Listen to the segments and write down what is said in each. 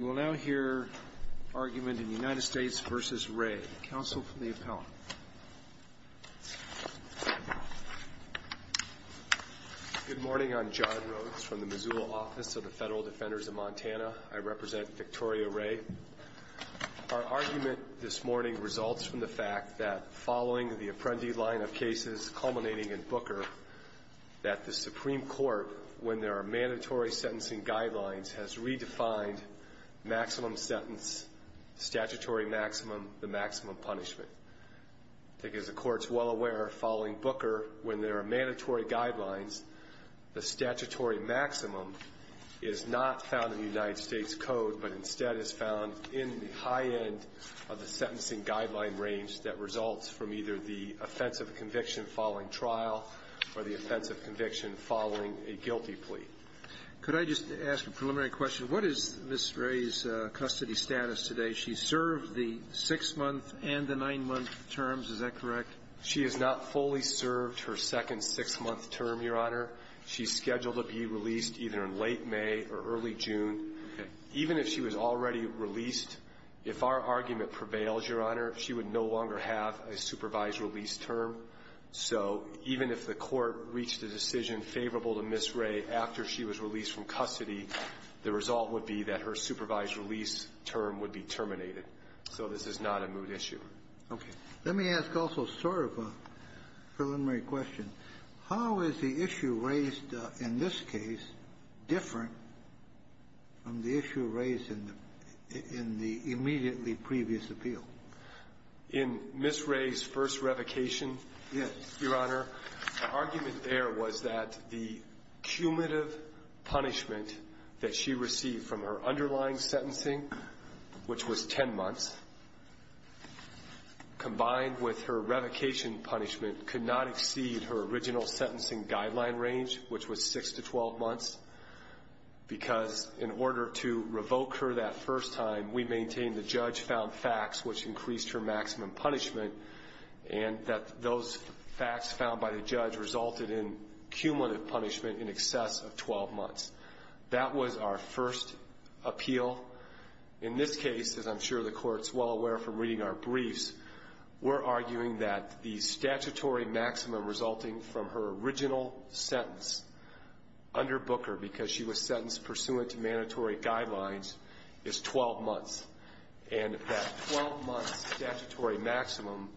Good morning, I'm John Rhodes from the Missoula Office of the Federal Defenders of Montana. I represent Victoria Ray. Our argument this morning results from the fact that following the Apprendi line of cases culminating in Booker, that the Supreme Court, when there are mandatory sentencing guidelines, has redefined maximum sentence, statutory maximum, the maximum punishment. I think as the Court's well aware, following Booker, when there are mandatory guidelines, the statutory maximum is not found in the United States Code, but instead is found in the high end of the sentencing guideline range that results from either the offensive conviction following trial or the offensive conviction following a guilty plea. Could I just ask a preliminary question? What is Miss Ray's custody status today? She served the six-month and the nine-month terms. Is that correct? She has not fully served her second six-month term, Your Honor. She's scheduled to be released either in late May or early June. Even if she was already released, if our argument prevails, Your Honor, she would no longer have a supervised release term. So even if the Court reached a decision favorable to Miss Ray after she was released from custody, the result would be that her supervised release term would be terminated. So this is not a moot issue. Okay. Let me ask also sort of a preliminary question. How is the issue raised in this case different from the issue raised in the immediately previous appeal? In Miss Ray's first revocation, Your Honor, the argument there was that the cumulative punishment that she received from her underlying sentencing, which was 10 months, combined with her revocation punishment could not exceed her original sentencing guideline range, which was 6 to 12 months, because in order to revoke her that first time, we maintained the judge found facts which increased her maximum punishment, and that those facts found by the judge resulted in cumulative punishment in excess of 12 months. That was our first appeal. In this case, as I'm sure the Court's well aware from reading our briefs, we're arguing that the statutory maximum resulting from her original sentence under Booker because she was sentenced pursuant to mandatory guidelines is 12 months. And that 12-month statutory maximum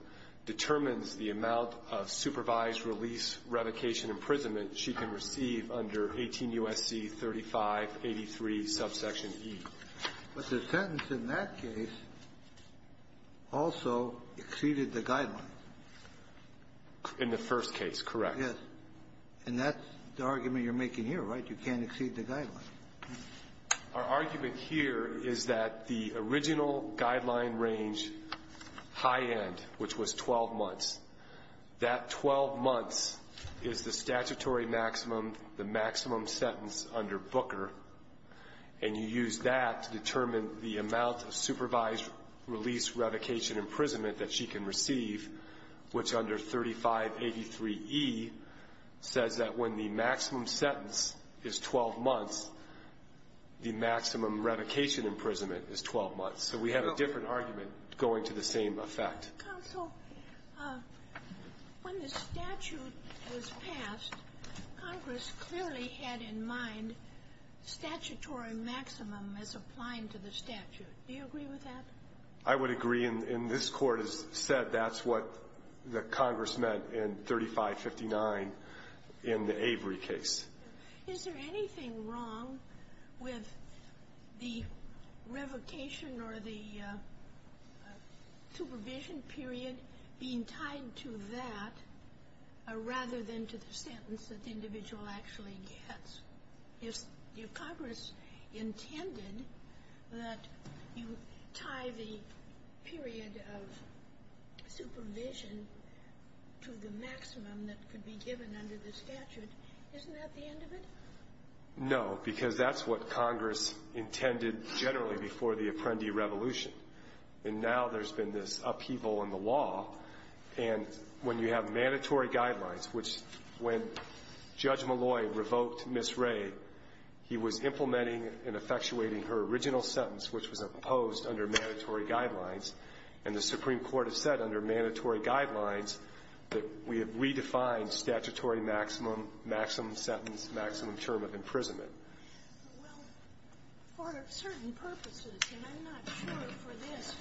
determines the amount of supervised release revocation imprisonment she can receive under 18 U.S.C. 3583, subsection E. But the sentence in that case also exceeded the guideline. In the first case, correct. Yes. And that's the argument you're making here, right? You can't exceed the guideline. Our argument here is that the original guideline range high end, which was 12 months, that 12 months is the statutory maximum, the maximum sentence under Booker, and you use that to determine the amount of supervised release revocation imprisonment that she can receive, which under 3583E says that when the maximum sentence is 12 months, the maximum revocation imprisonment is 12 months. So we have a different argument going to the same effect. Counsel, when the statute was passed, Congress clearly had in mind statutory maximum as applying to the statute. Do you agree with that? I would agree. And this Court has said that's what the Congress meant in 3559 in the Avery case. Is there anything wrong with the revocation or the supervision period being tied to that rather than to the sentence that the individual actually gets? If Congress intended that you tie the period of supervision to the maximum that could be given under the statute, isn't that the end of it? No, because that's what Congress intended generally before the Apprendi Revolution. And now there's been this upheaval in the law. And when you have mandatory guidelines, which when Judge Malloy revoked Ms. Wray, he was implementing and effectuating her original sentence, which was opposed under mandatory guidelines. And the Supreme Court has said under mandatory guidelines that we have redefined statutory maximum, maximum sentence, maximum term of imprisonment. Well, for certain purposes, and I'm not sure for this,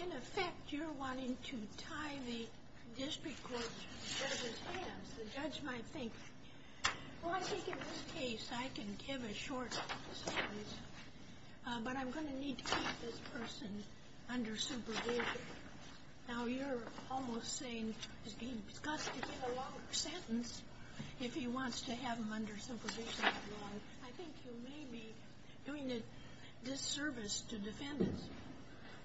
in effect, you're wanting to tie the district court to the judge's hands. The judge might think, well, I think in this case, I can give a short sentence. But I'm going to need to keep this person under supervision. Now, you're almost saying he's got to give a longer sentence if he wants to have him under supervision that long. I think you may be doing a disservice to defendants.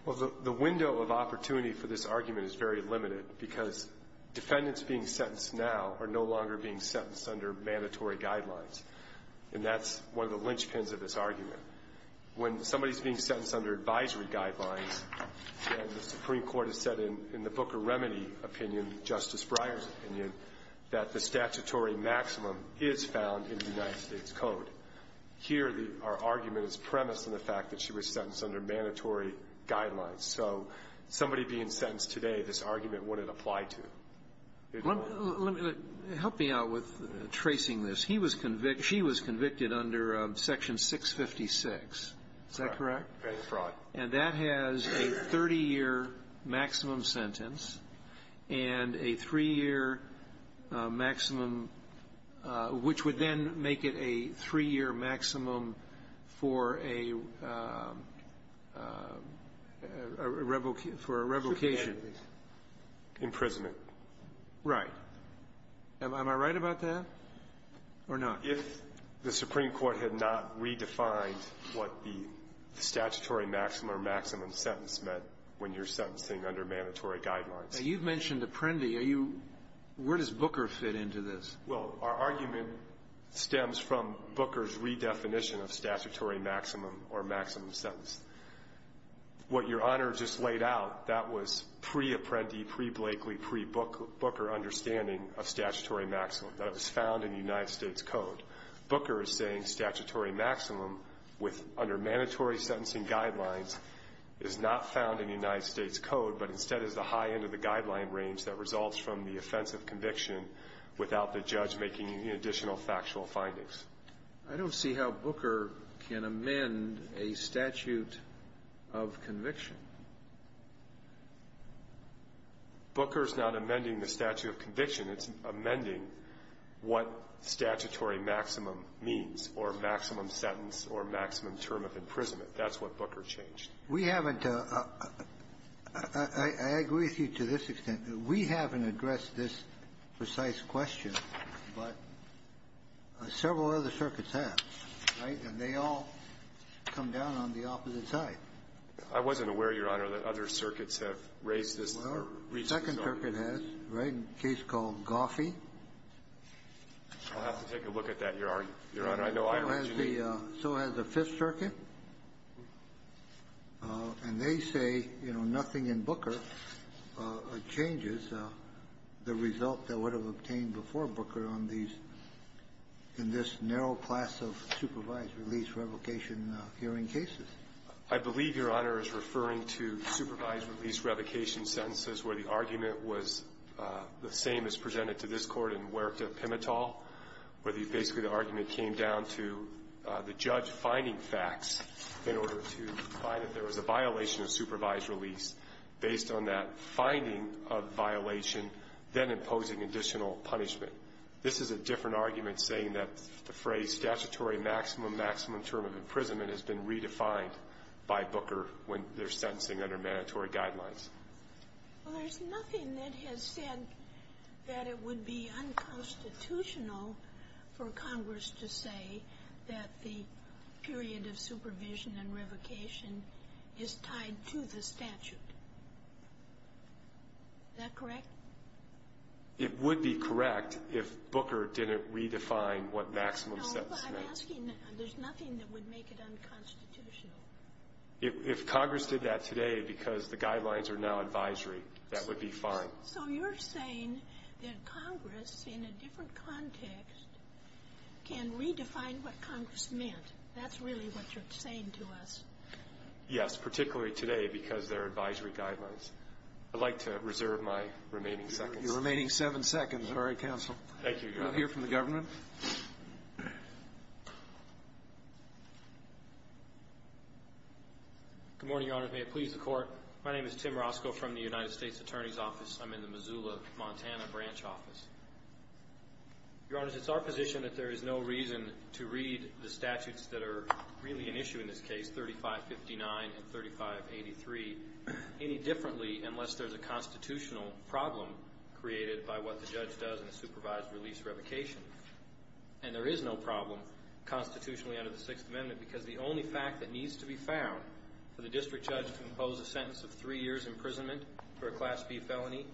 Well, the window of opportunity for this argument is very limited, because defendants being sentenced now are no longer being sentenced under mandatory guidelines. And that's one of the linchpins of this argument. When somebody's being sentenced under advisory guidelines, and the Supreme Court has said in the Booker Remedy opinion, Justice Breyer's opinion, that the statutory maximum is found in the United States Code. Here, our argument is premised on the fact that she was sentenced under mandatory guidelines. So somebody being sentenced today, this argument wouldn't apply to. Let me, help me out with tracing this. He was convicted, she was convicted under Section 656. Is that correct? Fraud. And that has a 30-year maximum sentence, and a three-year maximum which would then make it a three-year maximum for a revocation. Supremacy. Imprisonment. Right. Am I right about that or not? If the Supreme Court had not redefined what the statutory maximum or maximum sentence meant when you're sentencing under mandatory guidelines. Now, you've mentioned Apprendi. Are you, where does Booker fit into this? Well, our argument stems from Booker's redefinition of statutory maximum or maximum sentence. What Your Honor just laid out, that was pre-Apprendi, pre-Blakely, pre-Booker understanding of statutory maximum. That it was found in the United States Code. Booker is saying statutory maximum with, under mandatory sentencing guidelines, is not found in the United States Code, but instead is the high end of the conviction without the judge making any additional factual findings. I don't see how Booker can amend a statute of conviction. Booker's not amending the statute of conviction. It's amending what statutory maximum means, or maximum sentence, or maximum term of imprisonment. That's what Booker changed. We haven't, I agree with you to this extent. We haven't addressed this precise question, but several other circuits have, right? And they all come down on the opposite side. I wasn't aware, Your Honor, that other circuits have raised this or reached this argument. Well, the second circuit has, right, a case called Goffey. I'll have to take a look at that, Your Honor. I know I already did. Goffey, so has the Fifth Circuit, and they say, you know, nothing in Booker changes the result that would have obtained before Booker on these, in this narrow class of supervised release revocation hearing cases. I believe, Your Honor, is referring to supervised release revocation sentences where the argument was the same as presented to this Court in Wuerka-Pimitol, where basically the argument came down to the judge finding facts in order to find that there was a violation of supervised release based on that finding of violation, then imposing additional punishment. This is a different argument saying that the phrase statutory maximum, maximum term of imprisonment has been redefined by Booker when they're sentencing under mandatory guidelines. Well, there's nothing that has said that it would be unconstitutional for Congress to say that the period of supervision and revocation is tied to the statute. Is that correct? It would be correct if Booker didn't redefine what maximum sentence meant. No, I'm asking, there's nothing that would make it unconstitutional. If Congress did that today because the guidelines are now advisory, that would be fine. So you're saying that Congress, in a different context, can redefine what Congress meant. That's really what you're saying to us. Yes, particularly today because they're advisory guidelines. I'd like to reserve my remaining seconds. Your remaining seven seconds. All right, counsel. Thank you, Your Honor. We'll hear from the government. Good morning, Your Honor. May it please the Court. My name is Tim Roscoe from the United States Attorney's Office. I'm in the Missoula, Montana branch office. Your Honor, it's our position that there is no reason to read the statutes that are really an issue in this case, 3559 and 3583, any differently unless there's a constitutional problem created by what the judge does in a supervised release revocation. And there is no problem constitutionally under the Sixth Amendment because the only fact that needs to be found for the district judge to impose a sentence of three years imprisonment for a Class B felony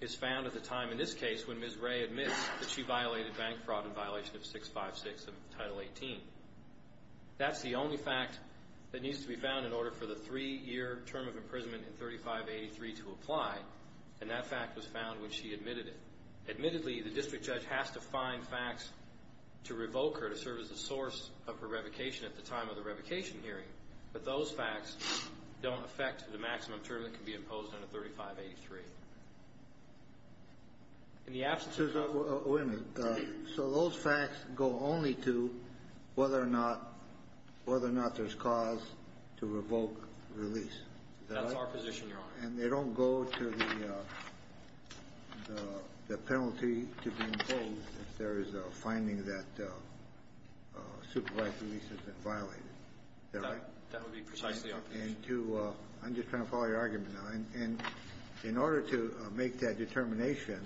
is found at the time in this case when Ms. Ray admits that she violated bank fraud in violation of 656 of Title 18. That's the only fact that needs to be found in order for the three-year term of imprisonment in 3583 to apply, and that fact was found when she admitted it. Admittedly, the district judge has to find facts to revoke her to serve as a source of a revocation at the time of the revocation hearing, but those facts don't affect the maximum term that can be imposed under 3583. In the absence of- Wait a minute. So those facts go only to whether or not there's cause to revoke release, is that right? That's our position, Your Honor. And they don't go to the penalty to be imposed if there is a finding that supervised release has been violated, is that right? That would be precisely our position. And to- I'm just trying to follow your argument now. And in order to make that determination,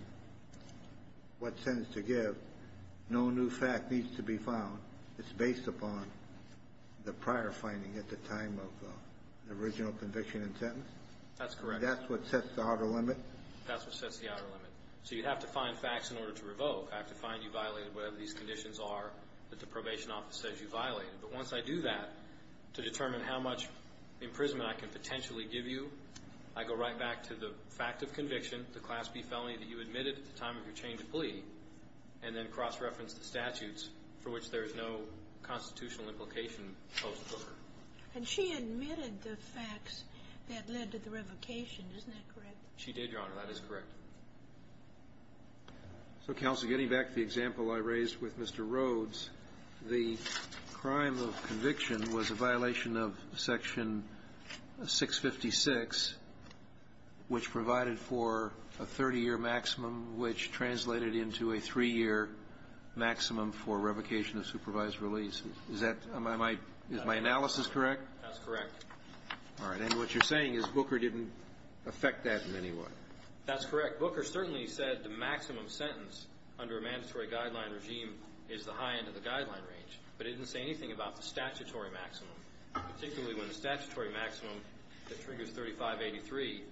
what sentence to give, no new fact needs to be found. It's based upon the prior finding at the time of the original conviction and sentence? That's correct. And that's what sets the outer limit? That's what sets the outer limit. So you'd have to find facts in order to revoke. I have to find you violated whatever these conditions are that the probation office says you violated. But once I do that, to determine how much imprisonment I can potentially give you, I go right back to the fact of conviction, the Class B felony that you admitted at the time of your change of plea, and then cross-reference the statutes for which there is no constitutional implication posed for her. And she admitted the facts that led to the revocation, isn't that correct? She did, Your Honor. That is correct. So, Counsel, getting back to the example I raised with Mr. Rhodes, the crime of conviction was a violation of Section 656, which provided for a 30-year maximum, which translated into a three-year maximum for revocation of supervised release. Is that my analysis correct? That's correct. All right. And what you're saying is Booker didn't affect that in any way? That's correct. Booker certainly said the maximum sentence under a mandatory guideline regime is the high end of the guideline range, but he didn't say anything about the statutory maximum, particularly when the statutory maximum that triggers 3583 is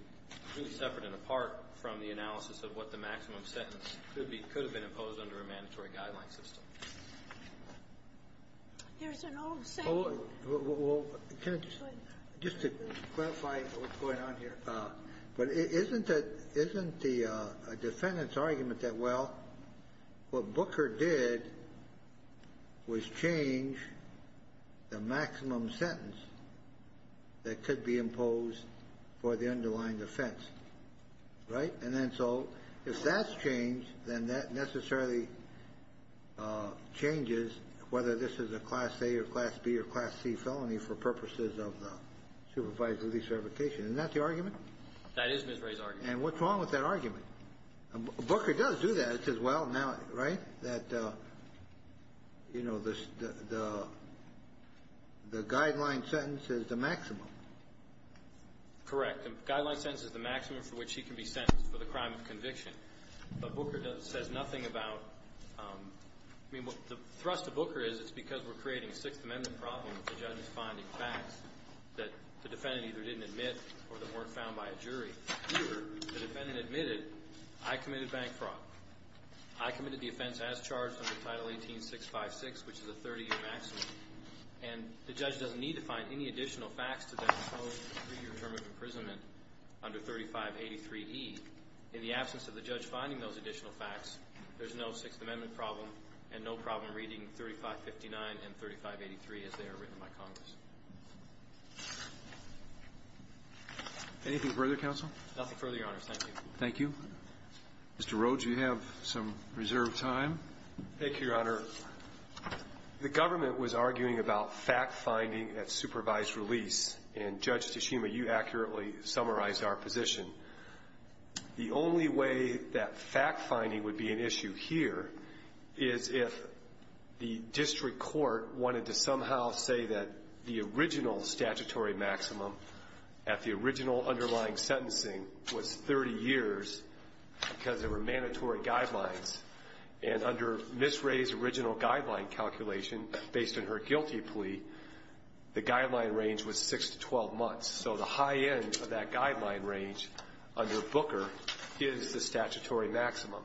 really separate and apart from the analysis of what the maximum sentence could have been imposed under a mandatory guideline system. There's an old saying. Well, just to clarify what's going on here, but isn't the defendant's argument that, well, what Booker did was change the maximum sentence that could be imposed for the underlying offense, right? And then so if that's changed, then that necessarily changes whether this is a class A or class B or class C felony for purposes of supervised release revocation. Isn't that the argument? That is Ms. Ray's argument. And what's wrong with that argument? Booker does do that. It says, well, now, right, that, you know, the guideline sentence is the maximum. Correct. The guideline sentence is the maximum for which he can be sentenced for the crime of conviction. But Booker says nothing about the thrust of Booker is it's because we're creating a Sixth Amendment problem with the judge's finding facts that the defendant either didn't admit or that weren't found by a jury. Here, the defendant admitted, I committed bank fraud. I committed the offense as charged under Title 18-656, which is a 30-year maximum. And the judge doesn't need to find any additional facts to that three-year term of imprisonment under 3583E. In the absence of the judge finding those additional facts, there's no Sixth Amendment problem and no problem reading 3559 and 3583 as they are written by Congress. Anything further, Counsel? Nothing further, Your Honor. Thank you. Thank you. Mr. Rhodes, you have some reserved time. Thank you, Your Honor. The government was arguing about fact-finding at supervised release. And Judge Tsushima, you accurately summarized our position. The only way that fact-finding would be an issue here is if the district court wanted to somehow say that the original statutory maximum at the original underlying sentencing was 30 years because there were mandatory guidelines. And under Ms. Wray's original guideline calculation, based on her guilty plea, the guideline range was 6 to 12 months. So the high end of that guideline range under Booker is the statutory maximum.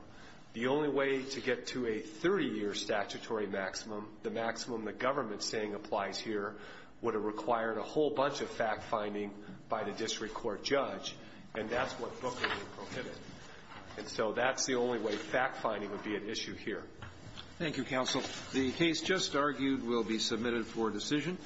The only way to get to a 30-year statutory maximum, the maximum the government's saying applies here, would have required a whole bunch of fact-finding by the district court judge, and that's what Booker prohibited. And so that's the only way fact-finding would be an issue here. Thank you, Counsel. The case just argued will be submitted for decision.